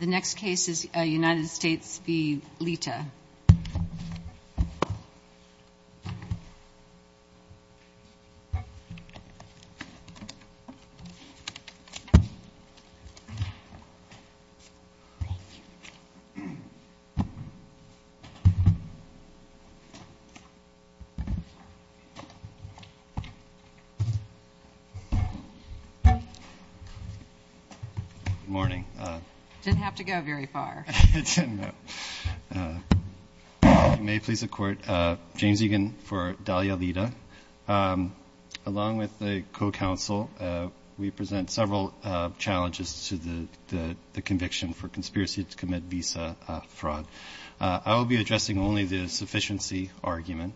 The next case is United States v. Lita. Good morning. Didn't have to go very far. It didn't, no. If you may please accord, James Egan for Dahlia Lita. Along with the co-counsel, we present several challenges to the conviction for conspiracy to commit visa fraud. I will be addressing only the sufficiency argument,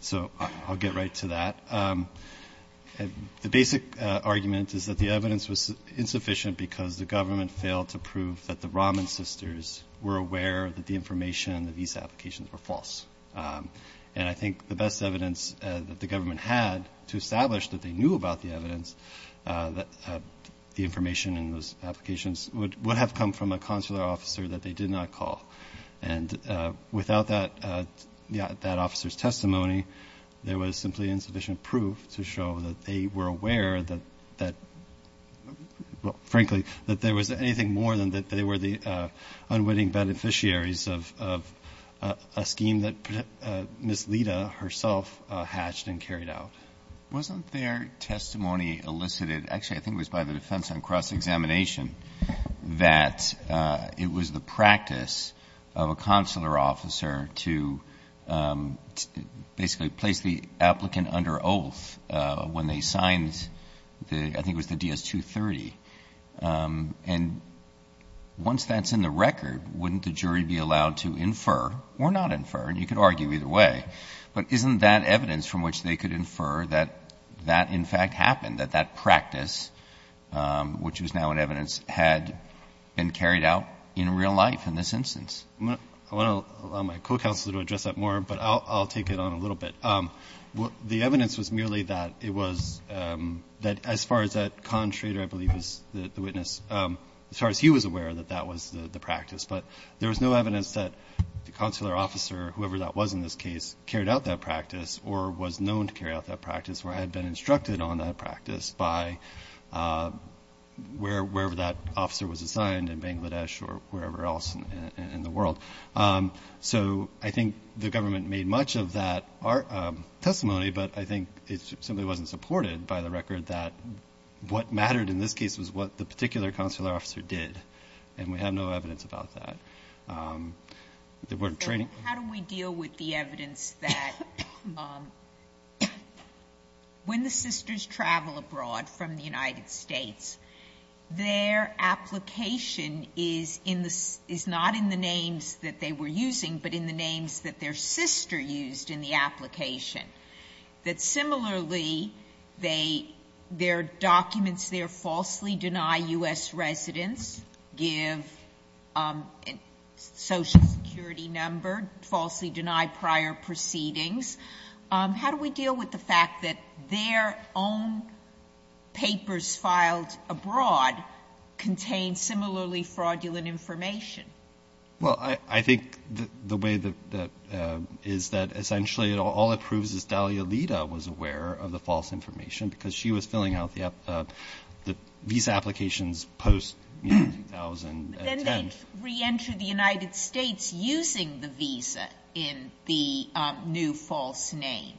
so I'll get right to that. The basic argument is that the evidence was insufficient because the government failed to prove that the Rahman sisters were aware that the information in the visa applications were false. And I think the best evidence that the government had to establish that they knew about the evidence, the information in those applications would have come from a consular officer that they did not call. And without that officer's testimony, there was simply insufficient proof to show that they were aware that, frankly, that there was anything more than that they were the unwitting beneficiaries of a scheme that Ms. Lita herself hatched and carried out. Wasn't their testimony elicited? Actually, I think it was by the defense on cross-examination that it was the practice of a consular officer to basically place the applicant under oath when they signed, I think it was the DS-230. And once that's in the record, wouldn't the jury be allowed to infer or not infer? And you could argue either way. But isn't that evidence from which they could infer that that, in fact, happened, that that practice, which was now in evidence, had been carried out in real life in this instance? I want to allow my co-counselor to address that more, but I'll take it on a little bit. The evidence was merely that it was that as far as that constrator, I believe, is the witness, as far as he was aware that that was the practice. But there was no evidence that the consular officer, whoever that was in this case, carried out that practice or was known to carry out that practice or had been instructed on that practice by wherever that officer was assigned in Bangladesh or wherever else in the world. So I think the government made much of that testimony, but I think it simply wasn't supported by the record that what mattered in this case was what the particular consular officer did, and we have no evidence about that. The word training? How do we deal with the evidence that when the sisters travel abroad from the United States, their application is not in the names that they were using, but in the names that their sister used in the application, that similarly their documents there falsely deny U.S. residents, give social security number, falsely deny prior proceedings? How do we deal with the fact that their own papers filed abroad contain similarly fraudulent information? Well, I think the way that is that essentially all it proves is Dahlia Lita was aware of the false information because she was filling out the visa applications post-2010. But then they re-enter the United States using the visa in the new false name.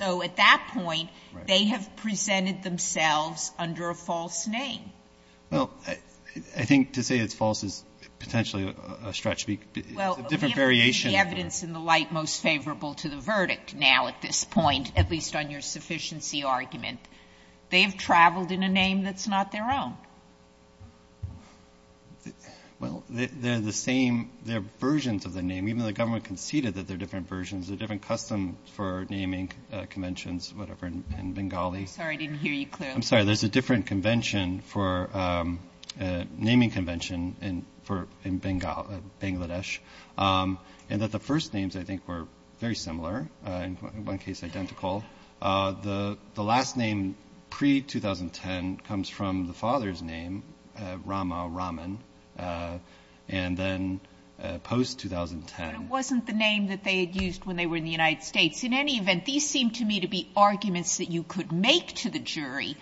So at that point, they have presented themselves under a false name. Well, I think to say it's false is potentially a stretch. It's a different variation. Well, we haven't seen the evidence in the light most favorable to the verdict now at this point, at least on your sufficiency argument. They have traveled in a name that's not their own. Well, they're the same. They're versions of the name. Even though the government conceded that they're different versions, they're different customs for naming conventions, whatever, in Bengali. I'm sorry. I didn't hear you clearly. I'm sorry. There's a different convention for naming convention in Bengali, Bangladesh, and that the first names, I think, were very similar, in one case identical. The last name pre-2010 comes from the father's name, Rama Raman, and then post-2010 But it wasn't the name that they had used when they were in the United States. In any event, these seem to me to be arguments that you could make to the jury,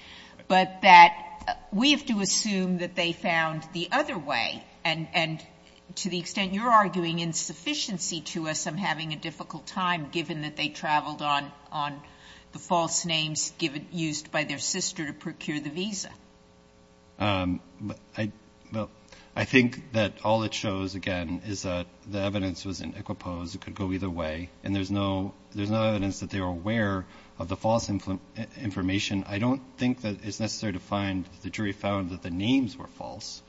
but that we have to assume that they found the other way. And to the extent you're arguing insufficiency to us, I'm having a difficult time given that they traveled on the false names used by their sister to procure the visa. I think that all it shows, again, is that the evidence was in equipoise. It could go either way. And there's no evidence that they were aware of the false information. I don't think that it's necessary to find that the jury found that the names were false.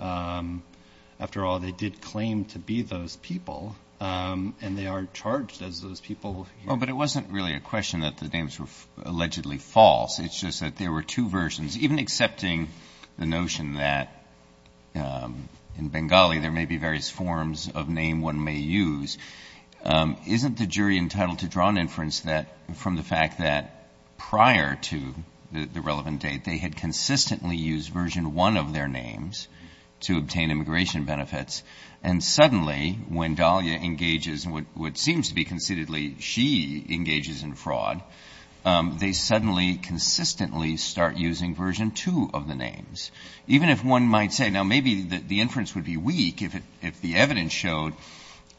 After all, they did claim to be those people, and they are charged as those people. Well, but it wasn't really a question that the names were allegedly false. It's just that there were two versions. Even accepting the notion that in Bengali there may be various forms of name one may use, isn't the jury entitled to draw an inference from the fact that prior to the relevant date they had consistently used version one of their names to obtain immigration benefits, and suddenly when Dahlia engages in what seems to be conceitedly she engages in fraud, they suddenly consistently start using version two of the names. Even if one might say, now, maybe the inference would be weak if the evidence showed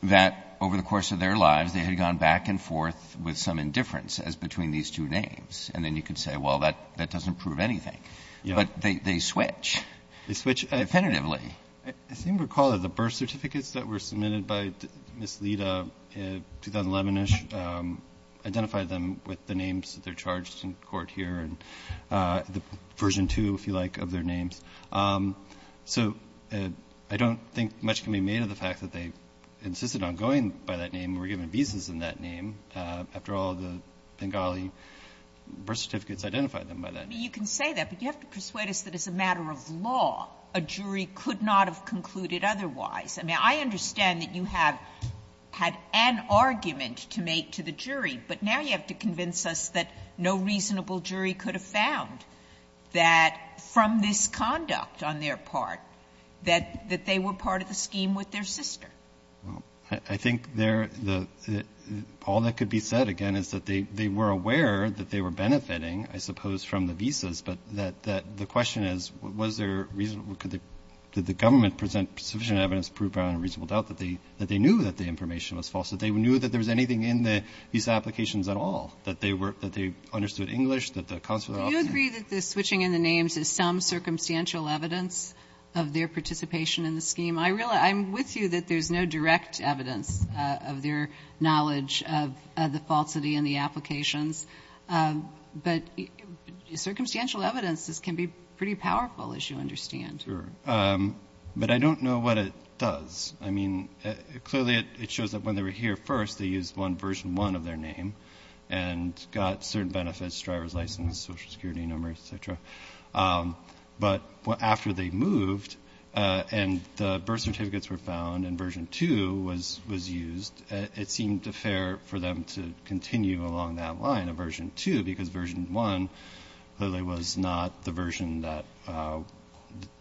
that over the course of their lives they had gone back and forth with some indifference as between these two names. And then you could say, well, that doesn't prove anything. But they switch. They switch. Definitively. I seem to recall that the birth certificates that were submitted by Ms. Lita in 2011-ish identified them with the names that they're charged in court here. The version two, if you like, of their names. So I don't think much can be made of the fact that they insisted on going by that name and were given visas in that name. After all, the Bengali birth certificates identified them by that name. Sotomayor, you can say that, but you have to persuade us that as a matter of law, a jury could not have concluded otherwise. I mean, I understand that you have had an argument to make to the jury, but now you have to convince us that no reasonable jury could have found that from this conduct on their part, that they were part of the scheme with their sister. Well, I think they're the — all that could be said, again, is that they were aware that they were benefiting, I suppose, from the visas, but that the question is, was there reason — did the government present sufficient evidence to prove beyond reasonable doubt that they knew that the information was false, that they knew that there was anything in these applications at all, that they understood English, that the consular officer — Do you agree that the switching in the names is some circumstantial evidence of their participation in the scheme? I'm with you that there's no direct evidence of their knowledge of the falsity in the applications, but circumstantial evidence can be pretty powerful, as you understand. Sure. But I don't know what it does. I mean, clearly it shows that when they were here first, they used one version one of their name and got certain benefits, driver's license, Social Security number, et cetera. But after they moved and the birth certificates were found and version two was used, it seemed fair for them to continue along that line of version two, because version one clearly was not the version that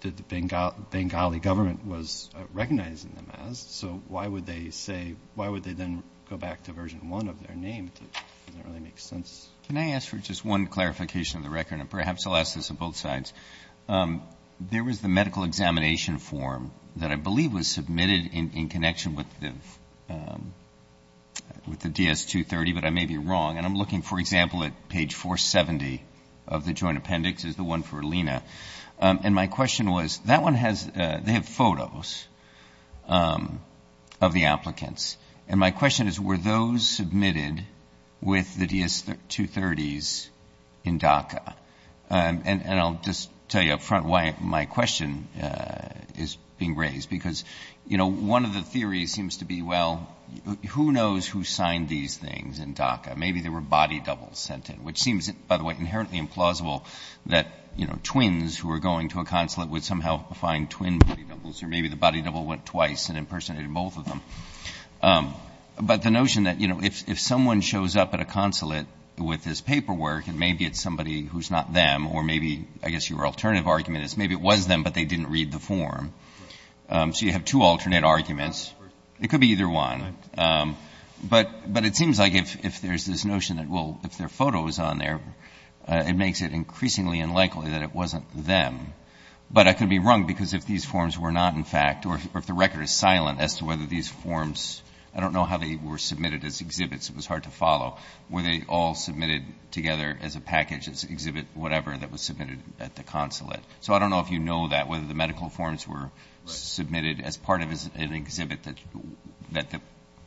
the Bengali government was recognizing them as. So why would they say — why would they then go back to version one of their name? It doesn't really make sense. Can I ask for just one clarification of the record? And perhaps I'll ask this of both sides. There was the medical examination form that I believe was submitted in connection with the DS-230, but I may be wrong. And I'm looking, for example, at page 470 of the joint appendix, is the one for Alina. And my question was, that one has — they have photos of the applicants. And my question is, were those submitted with the DS-230s in DACA? And I'll just tell you up front why my question is being raised, because, you know, one of the theories seems to be, well, who knows who signed these things in DACA? Maybe there were body doubles sent in, which seems, by the way, inherently implausible that, you know, twins who are going to a consulate would somehow find twin body doubles, or maybe the body double went twice and impersonated both of them. But the notion that, you know, if someone shows up at a consulate with this paperwork and maybe it's somebody who's not them, or maybe, I guess your alternative argument is maybe it was them, but they didn't read the form. So you have two alternate arguments. It could be either one. But it seems like if there's this notion that, well, if their photo is on there, it makes it increasingly unlikely that it wasn't them. But I could be wrong, because if these forms were not, in fact, or if the record is silent as to whether these forms — I don't know how they were submitted as exhibits. It was hard to follow. Were they all submitted together as a package, as exhibit whatever, that was submitted at the consulate? So I don't know if you know that, whether the medical forms were submitted as part of an exhibit that the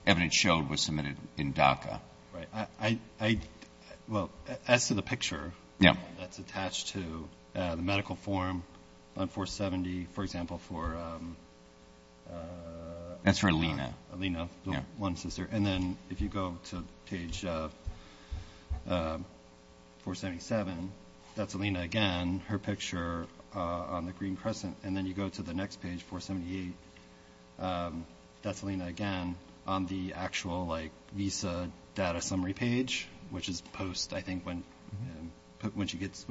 evidence showed was submitted in DACA. Right. I — well, as to the picture that's attached to the medical form on 470, for example, for — That's for Alina. Alina, the one sister. And then if you go to page 477, that's Alina again, her picture on the actual, like, visa data summary page, which is post, I think, when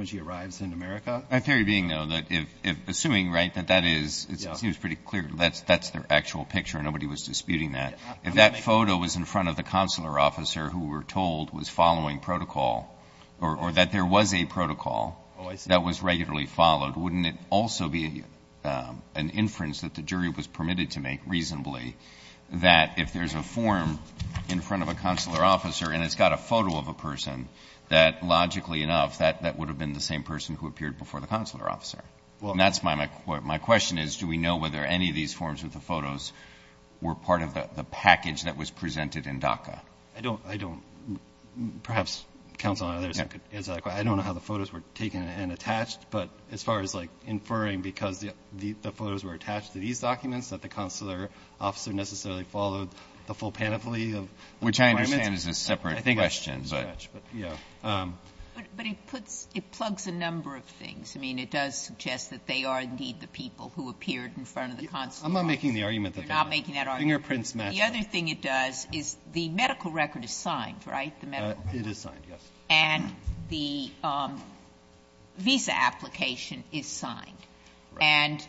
she arrives in America. In theory being, though, that if — assuming, right, that that is — Yeah. It seems pretty clear that that's their actual picture. Nobody was disputing that. Yeah. If that photo was in front of the consular officer who we're told was following protocol, or that there was a protocol — Oh, I see. — that was regularly followed, wouldn't it also be an inference that the jury was permitted to make reasonably that if there's a form in front of a consular officer and it's got a photo of a person, that logically enough, that would have been the same person who appeared before the consular officer? Well — And that's my — my question is, do we know whether any of these forms with the photos were part of the package that was presented in DACA? I don't — I don't — perhaps counsel and others could answer that question. I don't know how the photos were taken and attached, but as far as, like, if the photos were attached to these documents, that the consular officer necessarily followed the full panoply of the requirements? Which I understand is a separate question, but — I think — Yeah. But it puts — it plugs a number of things. I mean, it does suggest that they are, indeed, the people who appeared in front of the consular officer. I'm not making the argument that they were. You're not making that argument. Fingerprints match. The other thing it does is the medical record is signed, right, the medical — It is signed, yes. And the visa application is signed. Right. And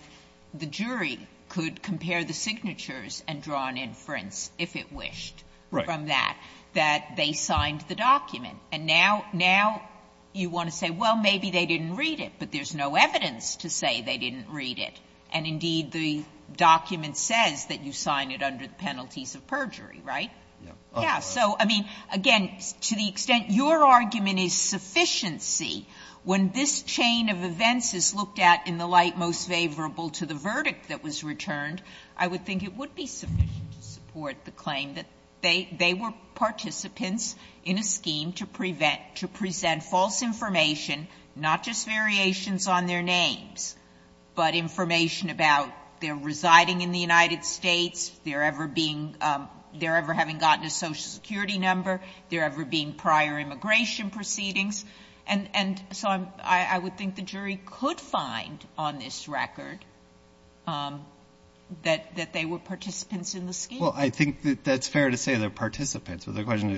the jury could compare the signatures and draw an inference, if it wished, from that. Right. That they signed the document. And now — now you want to say, well, maybe they didn't read it, but there's no evidence to say they didn't read it. And, indeed, the document says that you signed it under the penalties of perjury, right? Yeah. Yeah. So, I mean, again, to the extent your argument is sufficiency, when this chain of events is looked at in the light most favorable to the verdict that was returned, I would think it would be sufficient to support the claim that they were participants in a scheme to prevent — to present false information, not just variations on their names, but information about their residing in the United States, their ever being — their ever having gotten a Social Security number, their ever being prior immigration proceedings. And so I would think the jury could find on this record that they were participants in the scheme. Well, I think that that's fair to say they're participants. But the question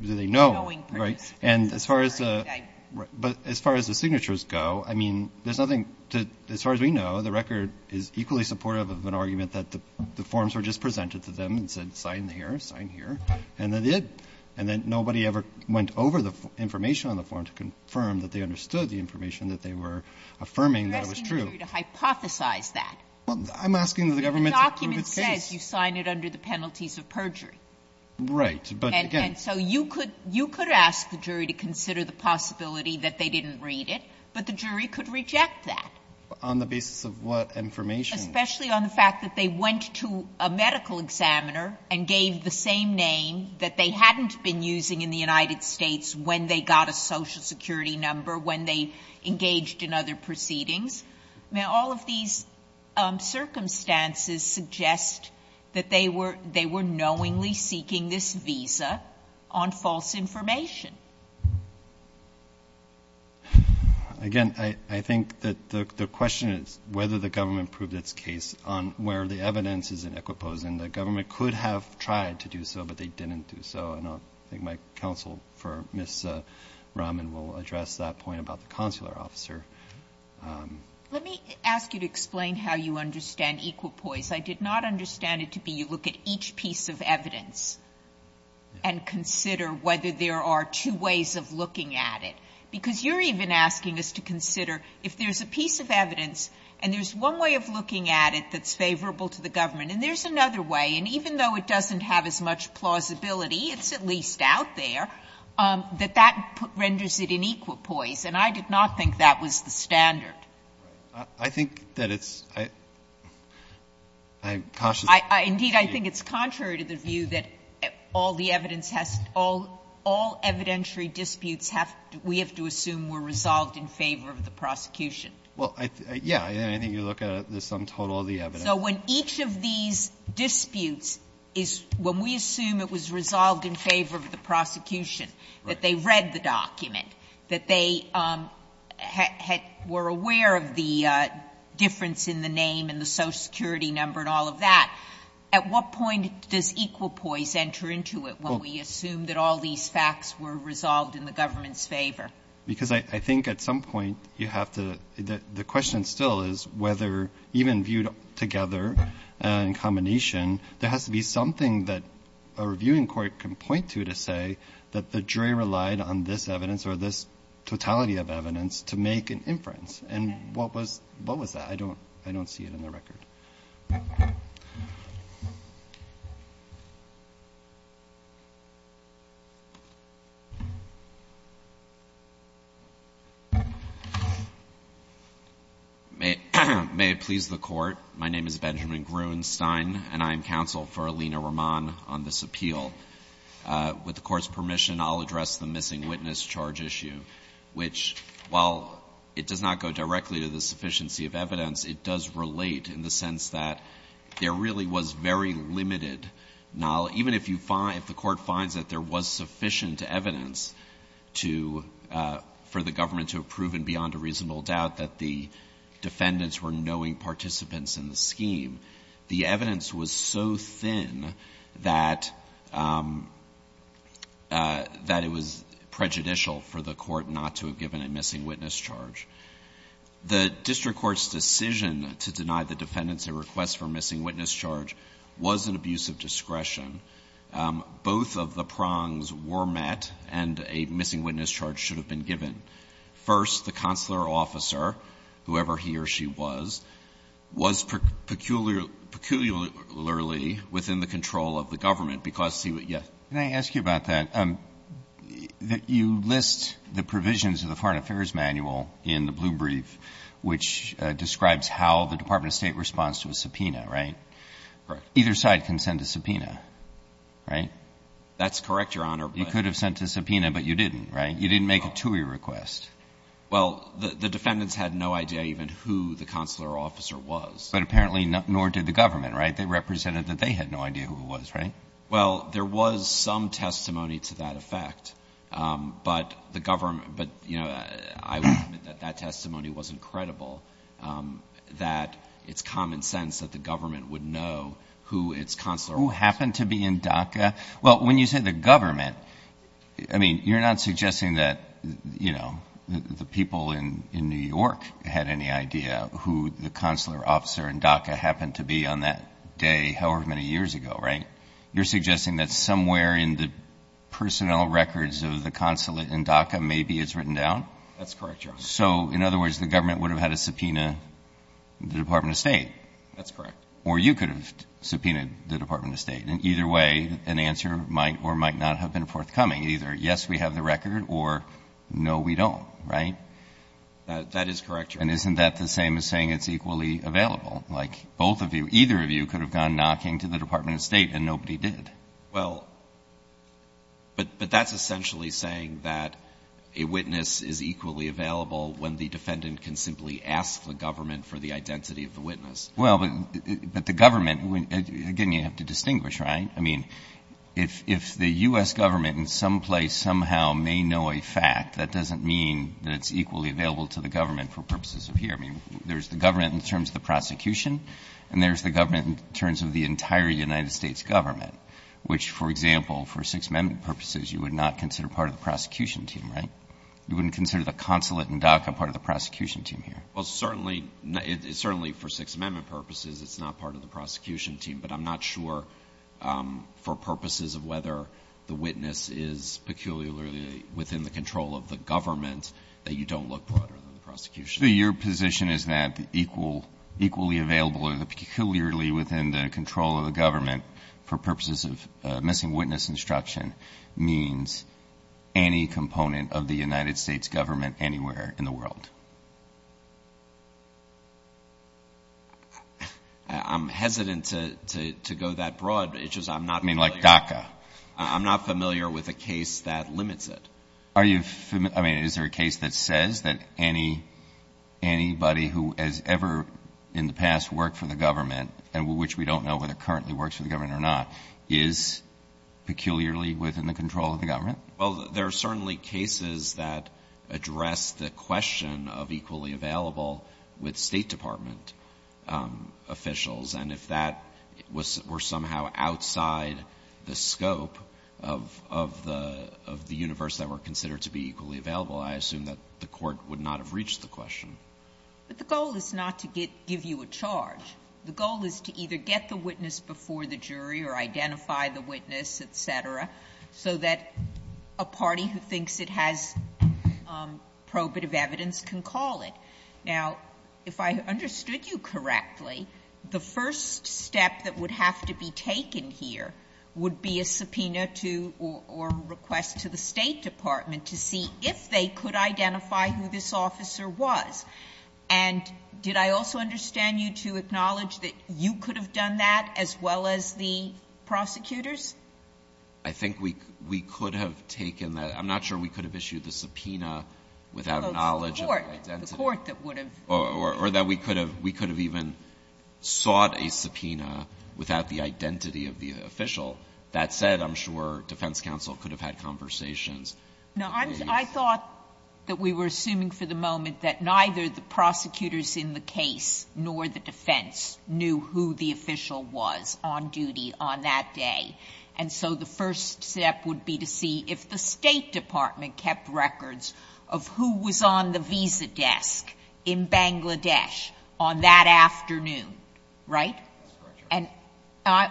is, do they know? Right. And as far as the signatures go, I mean, there's nothing to — as far as we know, the record is equally supportive of an argument that the forms were just presented to them and said sign here, sign here, and they did. And then nobody ever went over the information on the form to confirm that they understood the information that they were affirming that was true. I'm asking the jury to hypothesize that. Well, I'm asking the government to prove its case. The document says you sign it under the penalties of perjury. Right. But again — And so you could — you could ask the jury to consider the possibility that they didn't read it, but the jury could reject that. On the basis of what information? Especially on the fact that they went to a medical examiner and gave the same name that they hadn't been using in the United States when they got a Social Security number, when they engaged in other proceedings. Now, all of these circumstances suggest that they were knowingly seeking this visa on false information. Again, I think that the question is whether the government proved its case on where the evidence is in Equipos. And the government could have tried to do so, but they didn't do so. And I think my counsel for Ms. Rahman will address that point about the consular officer. Let me ask you to explain how you understand Equipos. I did not understand it to be you look at each piece of evidence and consider whether there are two ways of looking at it, because you're even asking us to consider if there's a piece of evidence and there's one way of looking at it that's favorable to the government. And there's another way, and even though it doesn't have as much plausibility, it's at least out there, that that renders it in Equipos, and I did not think that was the standard. I think that it's – I'm cautious. Indeed, I think it's contrary to the view that all the evidence has – all evidentiary disputes have – we have to assume were resolved in favor of the prosecution. Well, yeah. I think you look at the sum total of the evidence. So when each of these disputes is – when we assume it was resolved in favor of the prosecution, that they read the document, that they were aware of the difference in the name and the social security number and all of that, at what point does Equipos enter into it when we assume that all these facts were resolved in the government's favor? Because I think at some point you have to – the question still is whether even if they're reviewed together in combination, there has to be something that a reviewing court can point to to say that the jury relied on this evidence or this totality of evidence to make an inference. And what was – what was that? I don't – I don't see it in the record. May it please the Court. My name is Benjamin Gruenstein, and I am counsel for Alina Roman on this appeal. With the Court's permission, I'll address the missing witness charge issue, which, while it does not go directly to the sufficiency of evidence, it does relate in the sense that there really was very limited – even if you find – if the Court finds that there was sufficient evidence to – for the government to have proven beyond a reasonable doubt that the defendants were knowing participants in the scheme, the evidence was so thin that – that it was prejudicial for the Court not to have given a missing witness charge. The district court's decision to deny the defendants a request for a missing witness charge was an abuse of discretion. Both of the prongs were met, and a missing witness charge should have been given. First, the consular officer, whoever he or she was, was peculiarly within the control of the government because he – yes. Breyer, can I ask you about that? You list the provisions of the Foreign Affairs Manual in the blue brief, which describes how the Department of State responds to a subpoena, right? Correct. Either side can send a subpoena, right? That's correct, Your Honor. You could have sent a subpoena, but you didn't, right? You didn't make a TUI request. Well, the defendants had no idea even who the consular officer was. But apparently nor did the government, right? They represented that they had no idea who it was, right? Well, there was some testimony to that effect, but the government – but, you know, I would admit that that testimony wasn't credible, that it's common sense that the government would know who its consular officer was. Who happened to be in DACA? Well, when you say the government, I mean, you're not suggesting that, you know, the people in New York had any idea who the consular officer in DACA happened to be on that day however many years ago, right? You're suggesting that somewhere in the personnel records of the consulate in DACA maybe it's written down? That's correct, Your Honor. So, in other words, the government would have had to subpoena the Department of State? That's correct. Or you could have subpoenaed the Department of State. And either way, an answer might or might not have been forthcoming. Either yes, we have the record, or no, we don't, right? That is correct, Your Honor. And isn't that the same as saying it's equally available? Like, both of you, either of you could have gone knocking to the Department of State, and nobody did. Well, but that's essentially saying that a witness is equally available when the defendant can simply ask the government for the identity of the witness. Well, but the government, again, you have to distinguish, right? I mean, if the U.S. government in some place somehow may know a fact, that doesn't mean that it's equally available to the government for purposes of here. I mean, there's the government in terms of the prosecution, and there's the government in terms of the entire United States government, which, for example, for Sixth Amendment purposes, you would not consider part of the prosecution team, right? You wouldn't consider the consulate and DACA part of the prosecution team here. Well, certainly, certainly for Sixth Amendment purposes, it's not part of the prosecution team, but I'm not sure for purposes of whether the witness is peculiarly within the control of the government that you don't look broader than the prosecution. So your position is that equally available or peculiarly within the control of the government for purposes of missing witness instruction means any component of the United States government anywhere in the world? I'm hesitant to go that broad. It's just I'm not familiar. I mean, like DACA. I'm not familiar with a case that limits it. I mean, is there a case that says that anybody who has ever in the past worked for the government, and which we don't know whether currently works for the government or not, is peculiarly within the control of the government? Well, there are certainly cases that address the question of equally available with State Department officials, and if that were somehow outside the scope of the universe that were considered to be equally available, I assume that the Court would not have reached the question. But the goal is not to give you a charge. The goal is to either get the witness before the jury or identify the witness, et cetera, so that a party who thinks it has probative evidence can call it. Now, if I understood you correctly, the first step that would have to be taken here would be a subpoena to or request to the State Department to see if they could identify who this officer was. And did I also understand you to acknowledge that you could have done that as well as the prosecutors? I think we could have taken that. I'm not sure we could have issued the subpoena without knowledge of the identity. The Court that would have. Or that we could have even sought a subpoena without the identity of the official. That said, I'm sure defense counsel could have had conversations. Now, I thought that we were assuming for the moment that neither the prosecutors in the case nor the defense knew who the official was on duty on that day. And so the first step would be to see if the State Department kept records of who was on the visa desk in Bangladesh on that afternoon. Right? And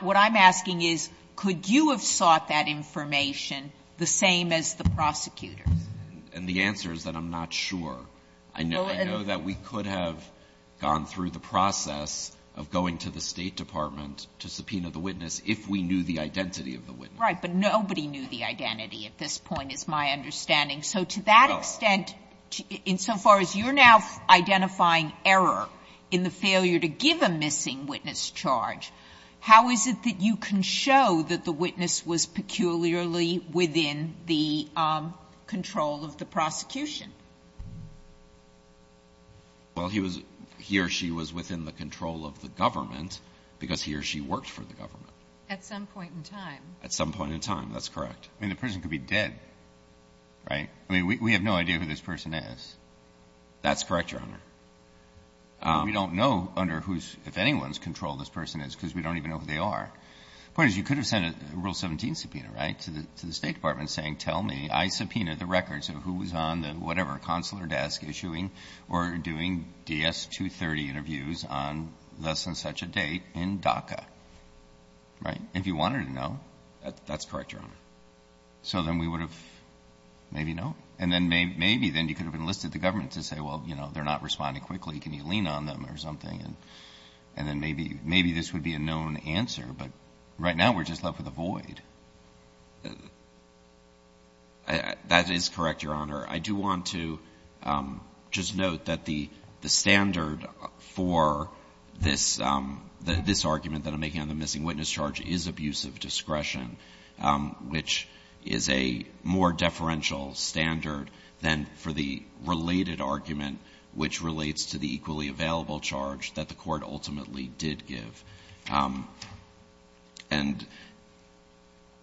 what I'm asking is, could you have sought that information the same as the prosecutors? And the answer is that I'm not sure. I know that we could have gone through the process of going to the State Department to subpoena the witness if we knew the identity of the witness. Right. But nobody knew the identity at this point is my understanding. So to that extent, insofar as you're now identifying error in the failure to give a missing witness charge, how is it that you can show that the witness was peculiarly within the control of the prosecution? Well, he was he or she was within the control of the government because he or she worked for the government. At some point in time. At some point in time. That's correct. I mean, the person could be dead. Right? I mean, we have no idea who this person is. That's correct, Your Honor. We don't know under whose, if anyone's control this person is because we don't even know who they are. Point is, you could have sent a Rule 17 subpoena, right, to the State Department saying, tell me I subpoenaed the records of who was on the whatever consular desk issuing or doing DS-230 interviews on less than such a date in DACA. Right? If you wanted to know. That's correct, Your Honor. So then we would have maybe known. And then maybe then you could have enlisted the government to say, well, you know, they're not responding quickly. Can you lean on them or something? And then maybe this would be a known answer. But right now we're just left with a void. That is correct, Your Honor. I do want to just note that the standard for this argument that I'm making on the missing witness charge, which is a more deferential standard than for the related argument, which relates to the equally available charge that the court ultimately did give. And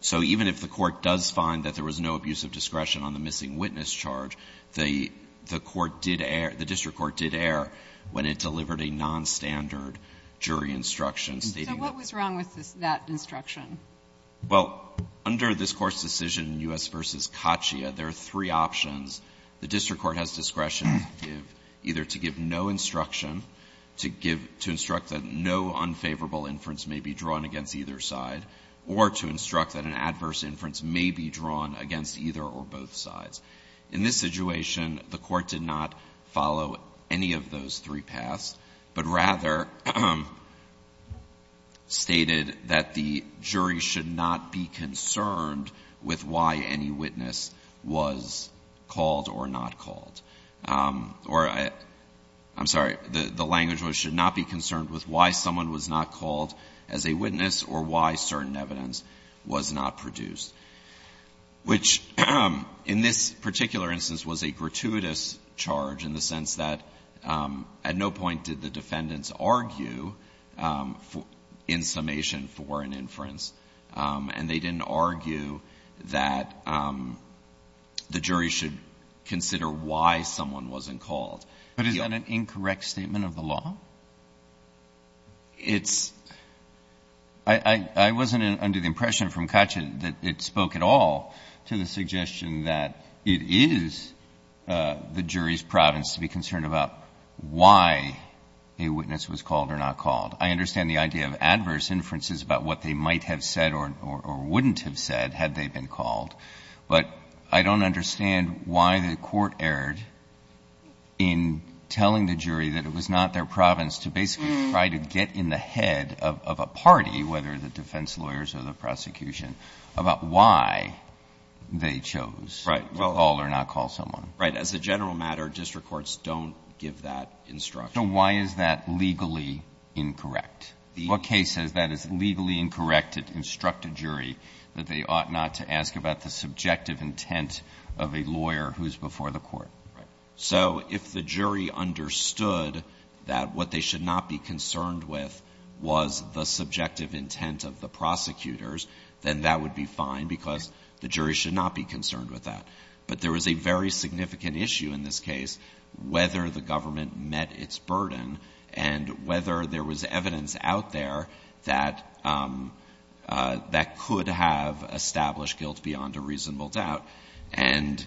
so even if the court does find that there was no abuse of discretion on the missing witness charge, the court did err, the district court did err when it delivered a nonstandard jury instruction stating that. So what was wrong with that instruction? Well, under this court's decision in U.S. v. Katia, there are three options. The district court has discretion to give, either to give no instruction, to give, to instruct that no unfavorable inference may be drawn against either side, or to instruct that an adverse inference may be drawn against either or both sides. In this situation, the court did not follow any of those three paths, but rather stated that the jury should not be concerned with why any witness was called or not called, or I'm sorry, the language was should not be concerned with why someone was not called as a witness or why certain evidence was not produced, which in this particular instance was a gratuitous charge in the sense that at no point did the district court argue in summation for an inference and they didn't argue that the jury should consider why someone wasn't called. But is that an incorrect statement of the law? It's — I wasn't under the impression from Katia that it spoke at all to the suggestion that it is the jury's province to be concerned about why a witness was called or not called. I understand the idea of adverse inferences about what they might have said or wouldn't have said had they been called, but I don't understand why the court erred in telling the jury that it was not their province to basically try to get in the head of a party, whether the defense lawyers or the prosecution, about why they chose to call or not call someone. Right. As a general matter, district courts don't give that instruction. So why is that legally incorrect? The case says that is legally incorrect to instruct a jury that they ought not to ask about the subjective intent of a lawyer who is before the court. Right. So if the jury understood that what they should not be concerned with was the subjective intent of the prosecutors, then that would be fine because the jury should not be concerned with that. But there was a very significant issue in this case whether the government met its burden and whether there was evidence out there that could have established guilt beyond a reasonable doubt. And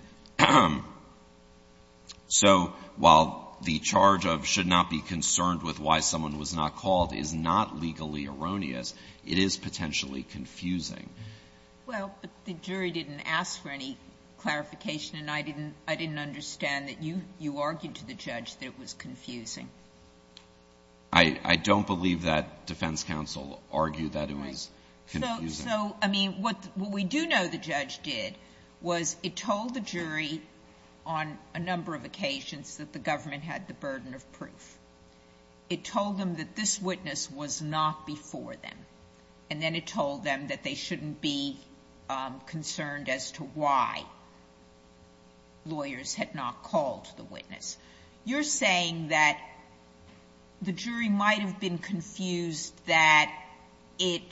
so while the charge of should not be concerned with why someone was not called is not legally erroneous, it is potentially confusing. Well, but the jury didn't ask for any clarification and I didn't understand that you argued to the judge that it was confusing. I don't believe that defense counsel argued that it was confusing. So, I mean, what we do know the judge did was it told the jury on a number of occasions that the government had the burden of proof. It told them that this witness was not before them. And then it told them that they shouldn't be concerned as to why lawyers had not called the witness. You're saying that the jury might have been confused that it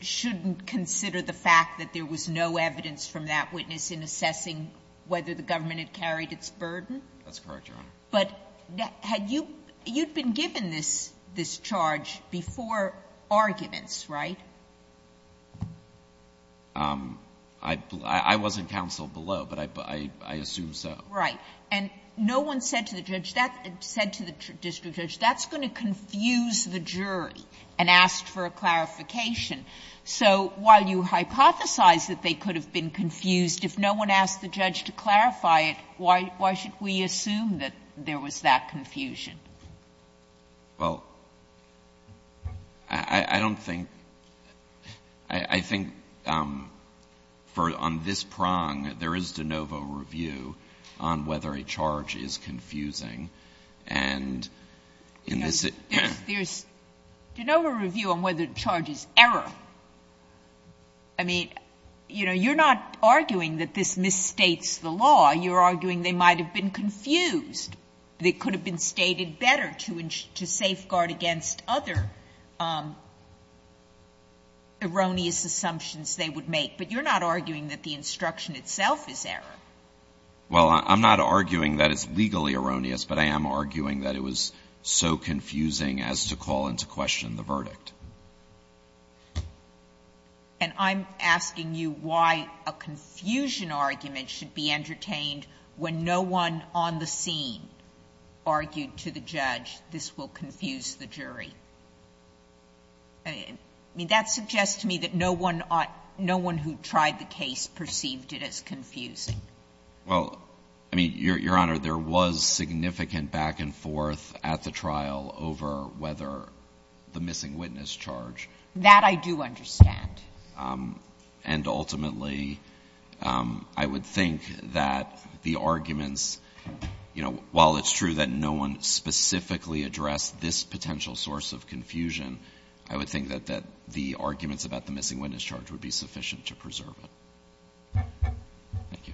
shouldn't consider the fact that there was no evidence from that witness in assessing whether the government That's correct, Your Honor. But had you been given this charge before arguments, right? I wasn't counsel below, but I assume so. Right. And no one said to the judge, said to the district judge, that's going to confuse the jury and ask for a clarification. So while you hypothesize that they could have been confused, if no one asked the judge to clarify it, why should we assume that there was that confusion? Well, I don't think — I think on this prong, there is de novo review on whether a charge is confusing, and in this it's— There's de novo review on whether the charge is error. I mean, you know, you're not arguing that this misstates the law. You're arguing they might have been confused. They could have been stated better to safeguard against other erroneous assumptions they would make. But you're not arguing that the instruction itself is error. Well, I'm not arguing that it's legally erroneous, but I am arguing that it was so confusing as to call into question the verdict. And I'm asking you why a confusion argument should be entertained when no one on the scene argued to the judge, this will confuse the jury. I mean, that suggests to me that no one who tried the case perceived it as confusing. Well, I mean, Your Honor, there was significant back and forth at the trial over whether the missing witness charge— That I do understand. And ultimately, I would think that the arguments, you know, while it's true that no one specifically addressed this potential source of confusion, I would think that the arguments about the missing witness charge would be sufficient to preserve it. Thank you.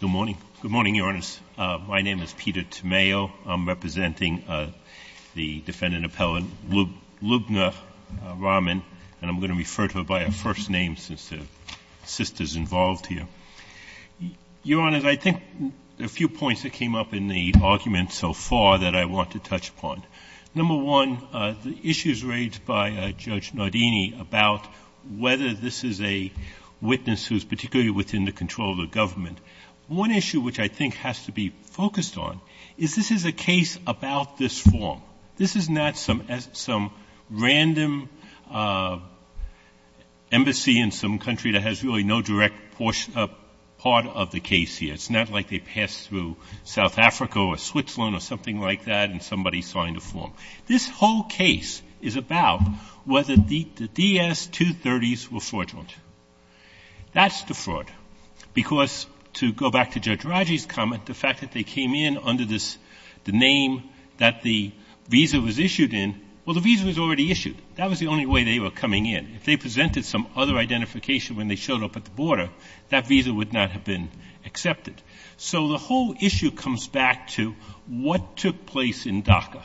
Good morning, Your Honors. My name is Peter Tomeo. I'm representing the defendant appellant Lubna Rahman, and I'm going to refer to her by her first name since the sister is involved here. Your Honors, I think a few points that came up in the argument so far that I want to touch upon. Number one, the issues raised by Judge Nardini about whether this is a witness who is particularly within the control of the government. One issue which I think has to be focused on is this is a case about this form. This is not some random embassy in some country that has really no direct connection to this part of the case here. It's not like they passed through South Africa or Switzerland or something like that and somebody signed a form. This whole case is about whether the DS-230s were fraudulent. That's the fraud, because to go back to Judge Raji's comment, the fact that they came in under this, the name that the visa was issued in, well, the visa was already issued. That was the only way they were coming in. If they presented some other identification when they showed up at the border, that visa would not have been accepted. So the whole issue comes back to what took place in DACA.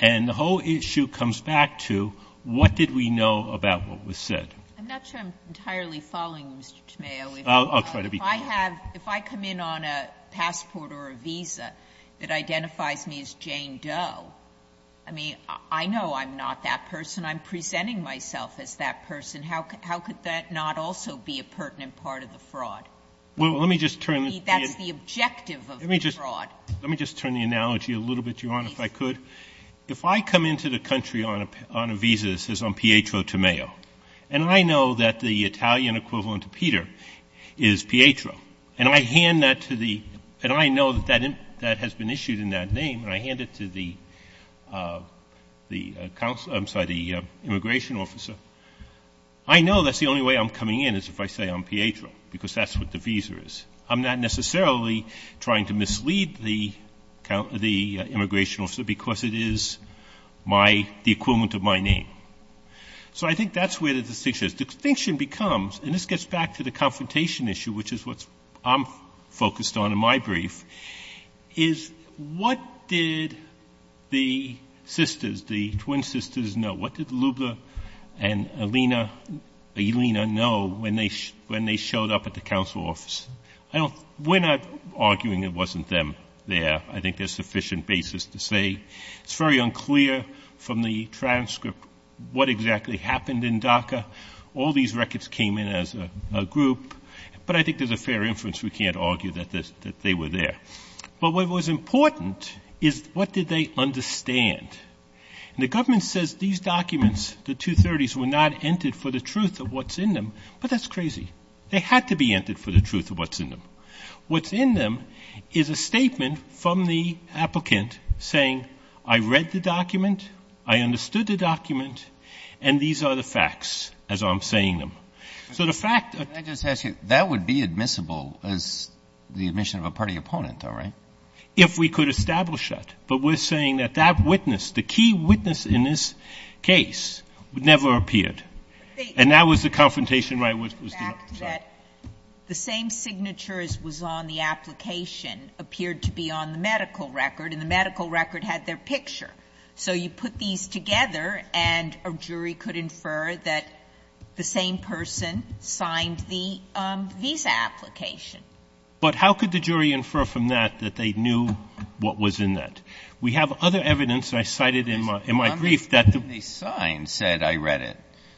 And the whole issue comes back to what did we know about what was said. I'm not sure I'm entirely following you, Mr. Tomeo. I'll try to be clear. If I come in on a passport or a visa that identifies me as Jane Doe, I mean, I know I'm not that person. I'm presenting myself as that person. How could that not also be a pertinent part of the fraud? That's the objective of the fraud. Let me just turn the analogy a little bit, Your Honor, if I could. If I come into the country on a visa that says I'm Pietro Tomeo, and I know that the Italian equivalent to Peter is Pietro, and I hand that to the — and I know that that has been issued in that name, and I hand it to the immigration officer, I know that's the only way I'm coming in is if I say I'm Pietro, because that's what the visa is. I'm not necessarily trying to mislead the immigration officer because it is my — the equivalent of my name. So I think that's where the distinction is. The distinction becomes — and this gets back to the confrontation issue, which is what I'm focused on in my brief, is what did the sisters, the twin sisters, know? What did Luebler and Elina know when they showed up at the counsel office? I don't — we're not arguing it wasn't them there. I think there's sufficient basis to say it's very unclear from the transcript what exactly happened in DACA. All these records came in as a group. But I think there's a fair inference we can't argue that they were there. But what was important is what did they understand. And the government says these documents, the 230s, were not entered for the truth of what's in them, but that's crazy. They had to be entered for the truth of what's in them. What's in them is a statement from the applicant saying I read the document, I understood the document, and these are the facts as I'm saying them. So the fact — Can I just ask you, that would be admissible as the admission of a party opponent, though, right? If we could establish that. But we're saying that that witness, the key witness in this case, never appeared. And that was the confrontation where I was dealing with. The fact that the same signature as was on the application appeared to be on the medical record, and the medical record had their picture. So you put these together and a jury could infer that the same person signed the visa application. But how could the jury infer from that that they knew what was in that? We have other evidence, and I cited in my brief, that the — The sign said I read it.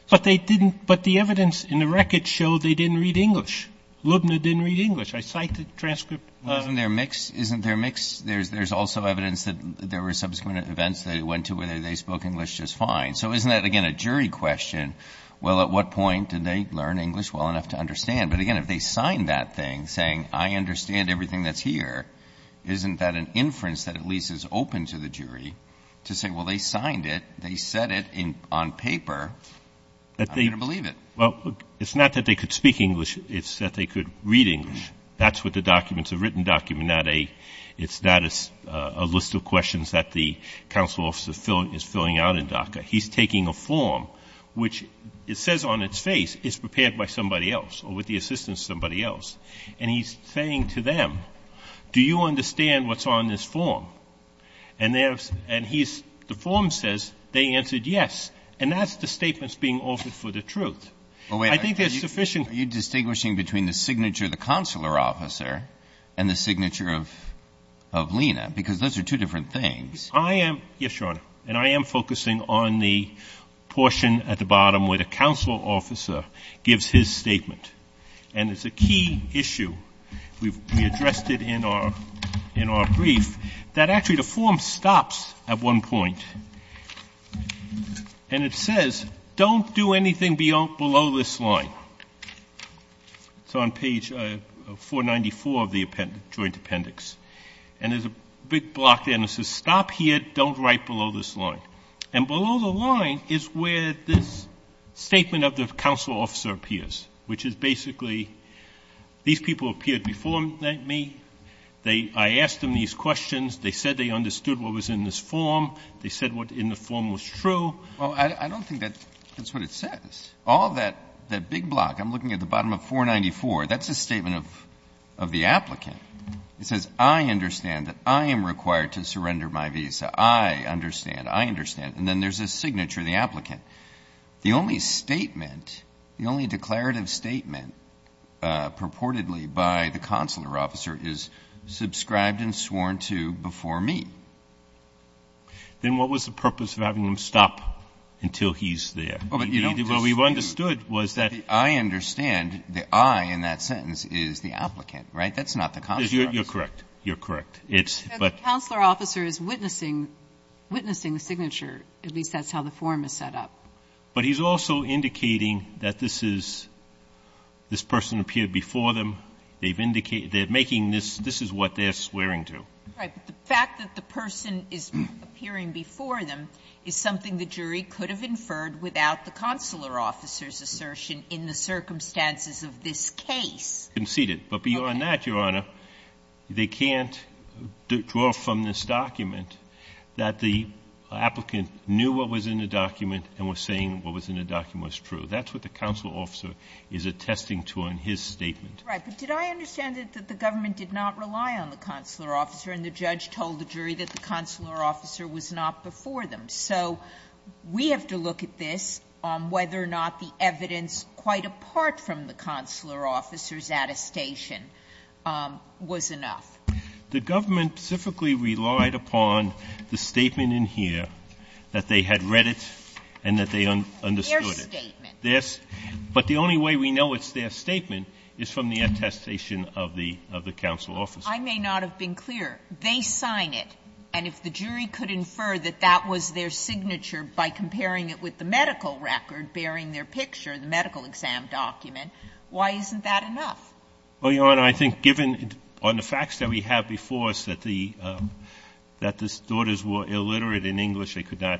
But they didn't — but the evidence in the record showed they didn't read English. Lubna didn't read English. I cite the transcript. Isn't there a mix? Isn't there a mix? There's also evidence that there were subsequent events they went to where they spoke English just fine. So isn't that, again, a jury question? Well, at what point did they learn English well enough to understand? But again, if they signed that thing saying, I understand everything that's here, isn't that an inference that at least is open to the jury to say, well, they signed it, they said it on paper, I'm going to believe it? Well, it's not that they could speak English. It's that they could read English. That's what the documents — a written document, not a — It's not a list of questions that the counsel officer is filling out in DACA. He's taking a form which it says on its face is prepared by somebody else or with the assistance of somebody else. And he's saying to them, do you understand what's on this form? And there's — and he's — the form says they answered yes. And that's the statements being offered for the truth. I think there's sufficient — of Lena, because those are two different things. I am — yes, Your Honor. And I am focusing on the portion at the bottom where the counsel officer gives his statement. And it's a key issue. We addressed it in our — in our brief that actually the form stops at one point and it says, don't do anything below this line. It's on page 494 of the joint appendix. And there's a big block there that says, stop here. Don't write below this line. And below the line is where this statement of the counsel officer appears, which is basically these people appeared before me. They — I asked them these questions. They said they understood what was in this form. They said what in the form was true. Well, I don't think that's what it says. All that — that big block, I'm looking at the bottom of 494. That's a statement of the applicant. It says, I understand that I am required to surrender my visa. I understand. I understand. And then there's a signature of the applicant. The only statement, the only declarative statement purportedly by the consular officer is subscribed and sworn to before me. Then what was the purpose of having them stop until he's there? Well, we've understood was that — I understand the I in that sentence is the applicant, right? That's not the consular officer. You're correct. You're correct. It's — but — The consular officer is witnessing — witnessing the signature. At least that's how the form is set up. But he's also indicating that this is — this person appeared before them. They've indicated — they're making this — this is what they're swearing to. Right. But the fact that the person is appearing before them is something the jury could have inferred without the consular officer's assertion in the circumstances of this case. Conceded. Okay. But beyond that, Your Honor, they can't draw from this document that the applicant knew what was in the document and was saying what was in the document was true. That's what the consular officer is attesting to in his statement. Right. But did I understand that the government did not rely on the consular officer and the judge told the jury that the consular officer was not before them? So we have to look at this on whether or not the evidence quite apart from the consular officer's attestation was enough. The government specifically relied upon the statement in here that they had read it and that they understood it. Their statement. Their — but the only way we know it's their statement is from the attestation of the — of the consular officer. I may not have been clear. They sign it. And if the jury could infer that that was their signature by comparing it with the medical record bearing their picture, the medical exam document, why isn't that enough? Well, Your Honor, I think given on the facts that we have before us that the — that the daughters were illiterate in English, they could not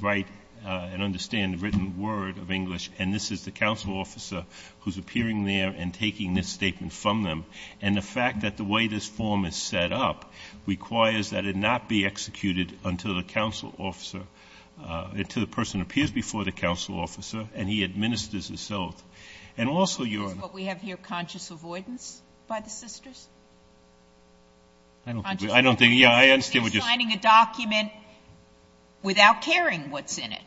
write and understand the written word of English, and this is the consular officer who is appearing there and taking this statement from them. And the fact that the way this form is set up requires that it not be executed until the consular officer — until the person appears before the consular officer and he administers itself. And also, Your Honor — Is what we have here conscious avoidance by the sisters? Conscious avoidance? I don't think — yeah, I understand what you're saying. They're signing a document without caring what's in it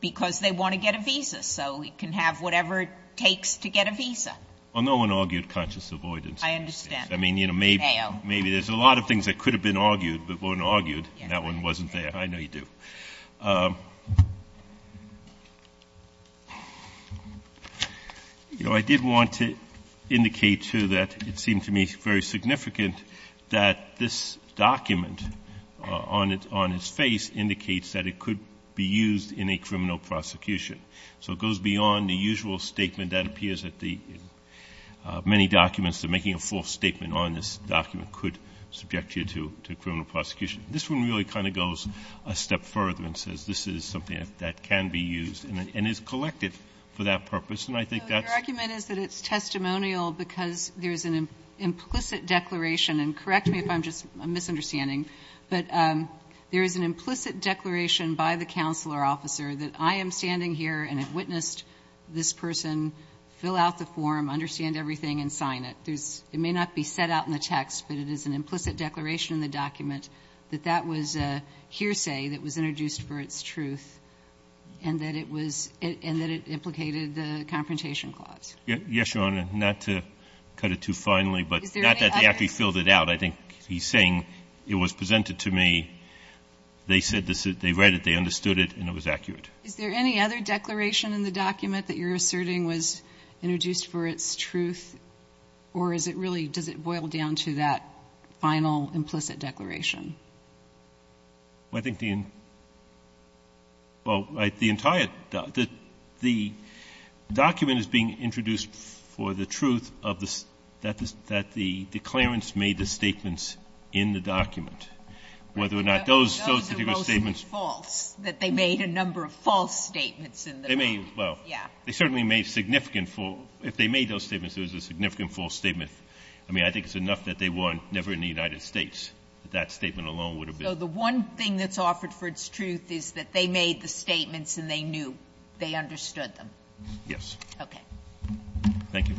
because they want to get a visa so we can have whatever it takes to get a visa. Well, no one argued conscious avoidance. I understand. I mean, you know, maybe there's a lot of things that could have been argued but weren't argued, and that one wasn't there. I know you do. You know, I did want to indicate, too, that it seemed to me very significant that this document on its face indicates that it could be used in a criminal prosecution. So it goes beyond the usual statement that appears at the — many documents that are making a false statement on this document could subject you to criminal prosecution. This one really kind of goes a step further and says this is something that can be used and is collected for that purpose, and I think that's — So your argument is that it's testimonial because there is an implicit declaration — and correct me if I'm just — I'm misunderstanding — but there is an implicit declaration by the counselor officer that I am standing here and have witnessed this person fill out the form, understand everything, and sign it. There's — it may not be set out in the text, but it is an implicit declaration in the document that that was a hearsay that was introduced for its truth and that it was — and that it implicated the Confrontation Clause. Yes, Your Honor. Not to cut it too finely, but not that they actually filled it out. I think he's saying it was presented to me. They said this — they read it, they understood it, and it was accurate. Is there any other declaration in the document that you're asserting was introduced for its truth? Or is it really — does it boil down to that final implicit declaration? Well, I think the — well, the entire — the document is being introduced for the truth of the — that the declarants made the statements in the document, whether or not those particular statements — Those are mostly false, that they made a number of false statements in the document. They made — well, they certainly made significant — if they made those statements, there was a significant false statement. I mean, I think it's enough that they were never in the United States, that that statement alone would have been — So the one thing that's offered for its truth is that they made the statements and they knew, they understood them. Yes. Okay. Thank you. Thank you.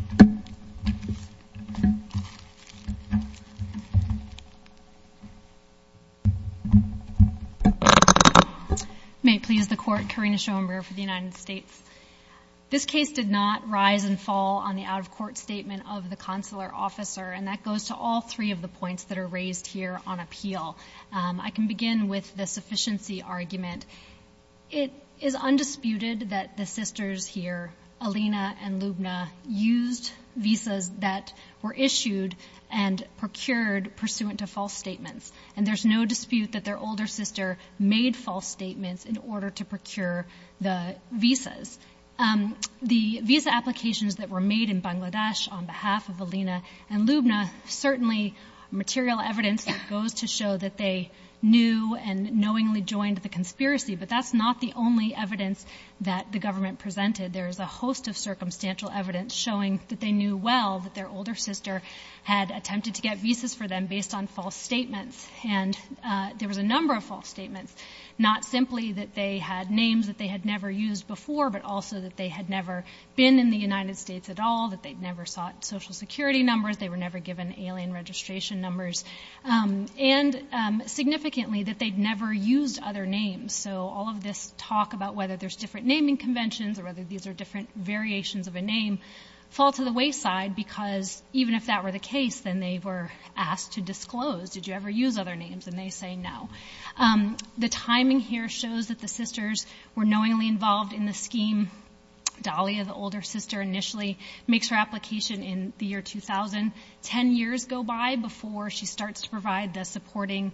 May it please the Court, Karina Schoenberg for the United States. This case did not rise and fall on the out-of-court statement of the consular officer, and that goes to all three of the points that are raised here on appeal. I can begin with the sufficiency argument. It is undisputed that the sisters here, Alina and Lubna, used visas that were issued and procured pursuant to false statements. And there's no dispute that their older sister made false statements in order to procure the visas. The visa applications that were made in Bangladesh on behalf of Alina and Lubna, certainly material evidence that goes to show that they knew and knowingly joined the conspiracy. But that's not the only evidence that the government presented. There is a host of circumstantial evidence showing that they knew well that their older sister had attempted to get visas for them based on false statements. And there was a number of false statements, not simply that they had names that they had never used before, but also that they had never been in the United States at all, that they'd never sought Social Security numbers, they were never given alien registration numbers. And significantly, that they'd never used other names. So all of this talk about whether there's different naming conventions or whether these are different variations of a name, fall to the wayside because even if that were the case, then they were asked to disclose, did you ever use other names, and they say no. The timing here shows that the sisters were knowingly involved in the scheme. Dalia, the older sister, initially makes her application in the year 2000. Ten years go by before she starts to provide the supporting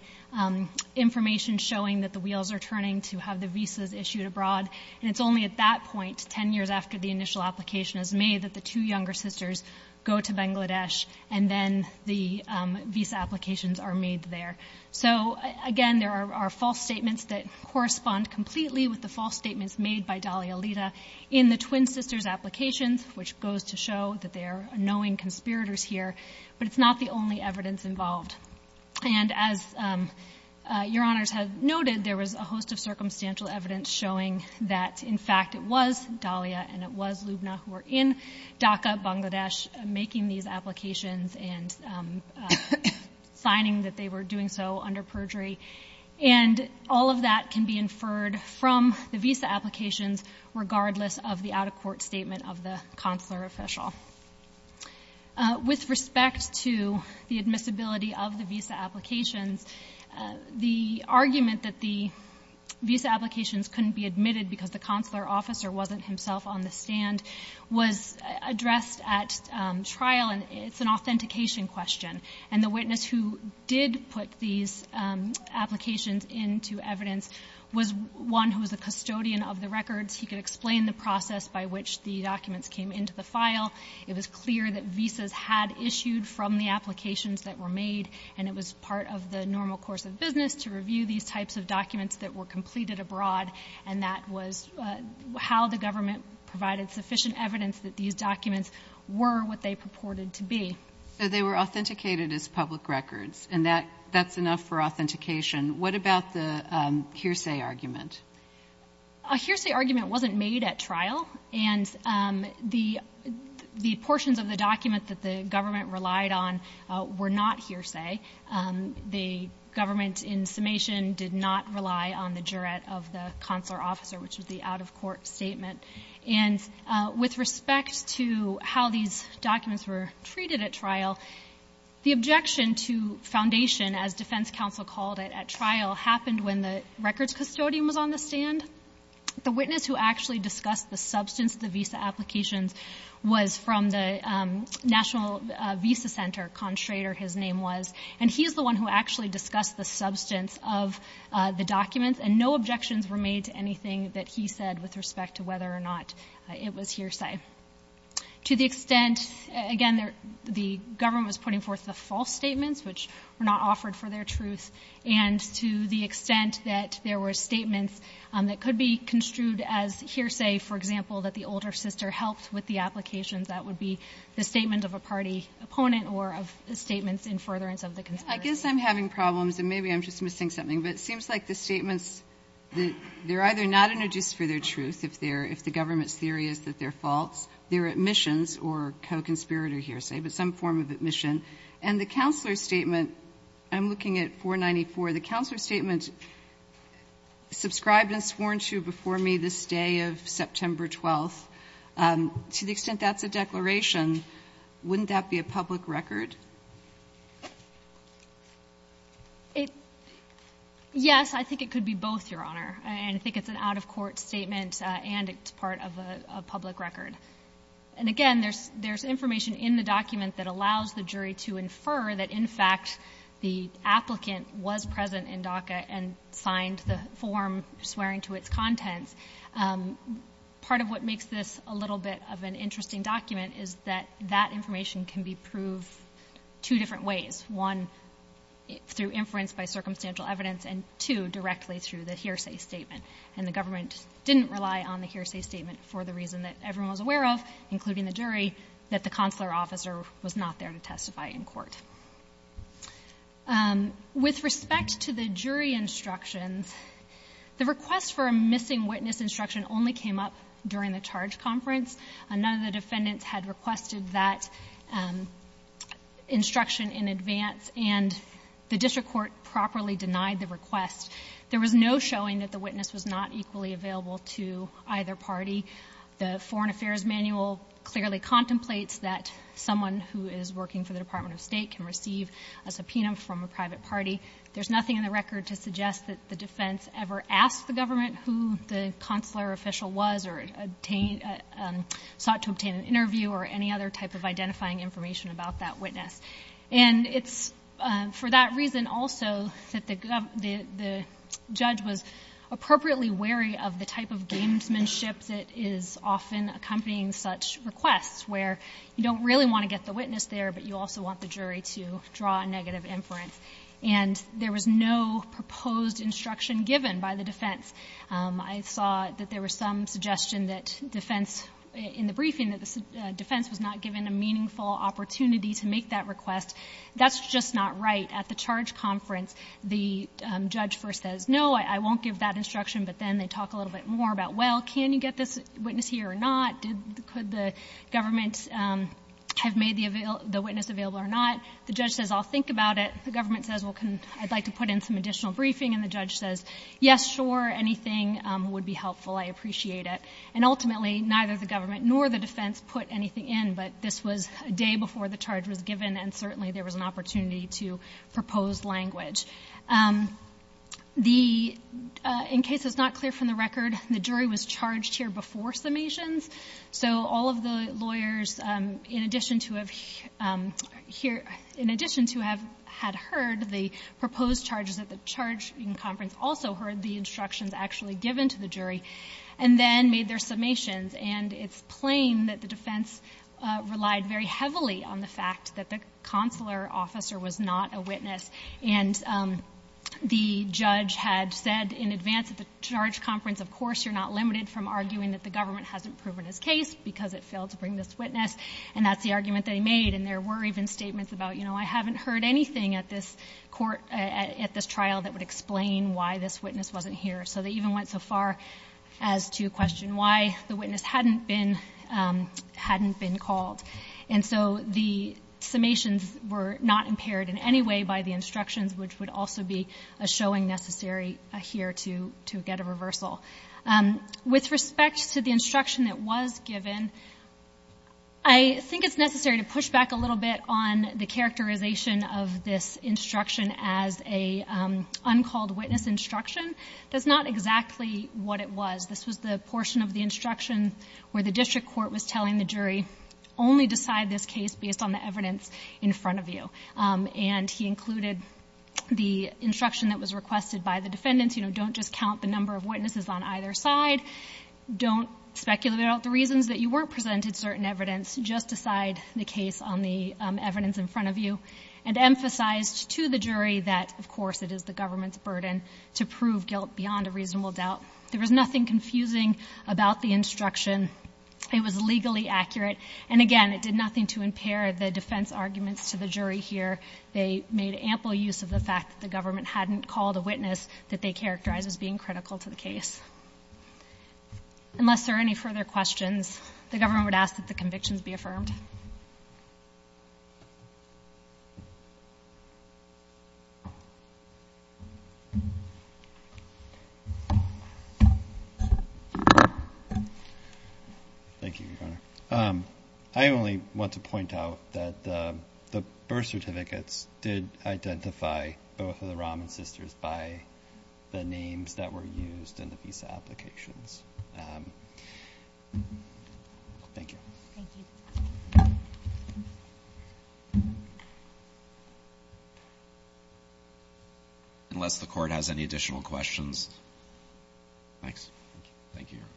information showing that the wheels are turning to have the visas issued abroad. And it's only at that point, ten years after the initial application is made, that the two younger sisters go to Bangladesh and then the visa applications are made there. So, again, there are false statements that correspond completely with the false statements made by Dalia Lita. In the twin sisters' applications, which goes to show that they are knowing conspirators here, but it's not the only evidence involved. And as Your Honors have noted, there was a host of circumstantial evidence showing that, in fact, it was Dalia and it was Lubna who were in Dhaka, Bangladesh, making these applications and signing that they were doing so under perjury. And all of that can be inferred from the visa applications regardless of the out-of-court statement of the consular official. With respect to the admissibility of the visa applications, the argument that the visa applications couldn't be admitted because the consular officer wasn't himself on the stand was addressed at trial, and it's an authentication question. And the witness who did put these applications into evidence was one who was a custodian of the records. He could explain the process by which the documents came into the file. It was clear that visas had issued from the applications that were made, and it was part of the normal course of business to review these types of documents that were completed abroad, and that was how the government provided sufficient evidence that these documents were what they purported to be. So they were authenticated as public records, and that's enough for authentication. What about the hearsay argument? A hearsay argument wasn't made at trial, and the portions of the document that the government relied on were not hearsay. The government, in summation, did not rely on the jurat of the consular officer, which was the out-of-court statement. And with respect to how these documents were treated at trial, the objection to foundation, as defense counsel called it at trial, happened when the records custodian was on the stand. The witness who actually discussed the substance of the visa applications was from the National Visa Center, Con Schrader his name was, and he is the one who actually discussed the substance of the documents, and no objections were made to anything that he said with respect to whether or not it was hearsay. To the extent, again, the government was putting forth the false statements, which were not offered for their truth, and to the extent that there were statements that could be construed as hearsay, for example, that the older sister helped with the applications, that would be the statement of a party opponent or of statements in furtherance of the conspiracy. I guess I'm having problems, and maybe I'm just missing something, but it seems like the statements, they're either not introduced for their truth, if the government's theory is that they're false, they're admissions or co-conspirator hearsay, but some form of admission, and the counselor's statement, I'm looking at 494, the counselor's statement, subscribed and sworn to before me this day of September 12th, to the extent that's a declaration, wouldn't that be a public record? Yes, I think it could be both, Your Honor, and I think it's an out-of-court statement and it's part of a public record. And again, there's information in the document that allows the jury to infer that in fact the applicant was present in DACA and signed the form swearing to its contents. Part of what makes this a little bit of an interesting document is that that information can be proved two different ways. One, through inference by circumstantial evidence, and two, directly through the hearsay statement. And the government didn't rely on the hearsay statement for the reason that everyone was aware of, including the jury, that the counselor officer was not there to testify in court. With respect to the jury instructions, the request for a missing witness instruction only came up during the charge conference. None of the defendants had requested that instruction in advance and the district court properly denied the request. There was no showing that the witness was not equally available to either party. The Foreign Affairs Manual clearly contemplates that someone who is working for the Department of State can receive a subpoena from a private party. There's nothing in the record to suggest that the defense ever asked the government who the counselor official was or sought to obtain an interview or any other type of identifying information about that witness. And it's for that reason also that the judge was appropriately wary of the type of gamesmanship that is often accompanying such requests, where you don't really want to get the witness there, but you also want the jury to draw a negative inference. And there was no proposed instruction given by the defense. I saw that there was some suggestion in the briefing that the defense was not given a meaningful opportunity to make that request. That's just not right. At the charge conference, the judge first says, no, I won't give that instruction, but then they talk a little bit more about, well, can you get this witness here or not? Could the government have made the witness available or not? The judge says, I'll think about it. The government says, well, I'd like to put in some additional briefing. And the judge says, yes, sure, anything would be helpful. I appreciate it. And ultimately, neither the government nor the defense put anything in, but this was a day before the charge was given, and certainly there was an opportunity to propose language. In case it's not clear from the record, the jury was charged here before summations. So all of the lawyers, in addition to have heard the proposed charges at the charge conference, also heard the instructions actually given to the jury and then made their summations. And it's plain that the defense relied very heavily on the fact that the consular officer was not a witness. And the judge had said in advance at the charge conference, of course you're not limited from arguing that the government hasn't proven his case because it failed to bring this witness, and that's the argument they made. And there were even statements about, you know, I haven't heard anything at this trial that would explain why this witness wasn't here. So they even went so far as to question why the witness hadn't been called. And so the summations were not impaired in any way by the instructions, which would also be a showing necessary here to get a reversal. With respect to the instruction that was given, I think it's necessary to push back a little bit on the characterization of this instruction as an uncalled witness instruction. That's not exactly what it was. This was the portion of the instruction where the district court was telling the jury, only decide this case based on the evidence in front of you. And he included the instruction that was requested by the defendants, you know, don't just count the number of witnesses on either side. Don't speculate about the reasons that you weren't presented certain evidence. Just decide the case on the evidence in front of you. And emphasized to the jury that, of course, it is the government's burden to prove guilt beyond a reasonable doubt. There was nothing confusing about the instruction. It was legally accurate. And, again, it did nothing to impair the defense arguments to the jury here. They made ample use of the fact that the government hadn't called a witness that they characterized as being critical to the case. Unless there are any further questions, the government would ask that the convictions be affirmed. Thank you, Your Honor. I only want to point out that the birth certificates did identify both of the Raman sisters by the names that were used in the visa applications. Thank you. Unless the Court has any additional questions. Thanks. Thank you, Your Honor.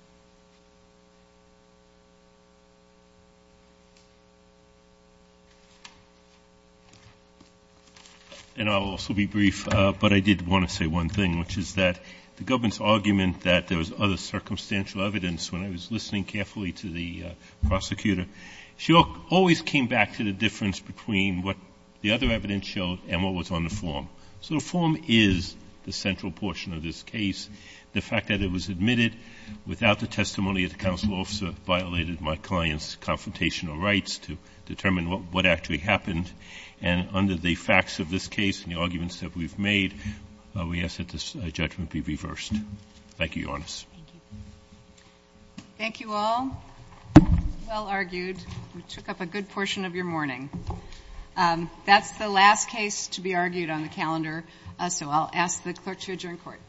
And I'll also be brief, but I did want to say one thing, which is that the government's argument that there was other circumstantial evidence when I was listening carefully to the prosecutor, she always came back to the difference between what the other evidence showed and what was on the form. So the form is the central portion of this case. The fact that it was admitted without the testimony of the counsel officer violated my client's confrontational rights to determine what actually happened. And under the facts of this case and the arguments that we've made, we ask that this judgment be reversed. Thank you, Your Honor. Thank you all. Well argued. We took up a good portion of your morning. So I'll ask the clerk to adjourn court. Thank you.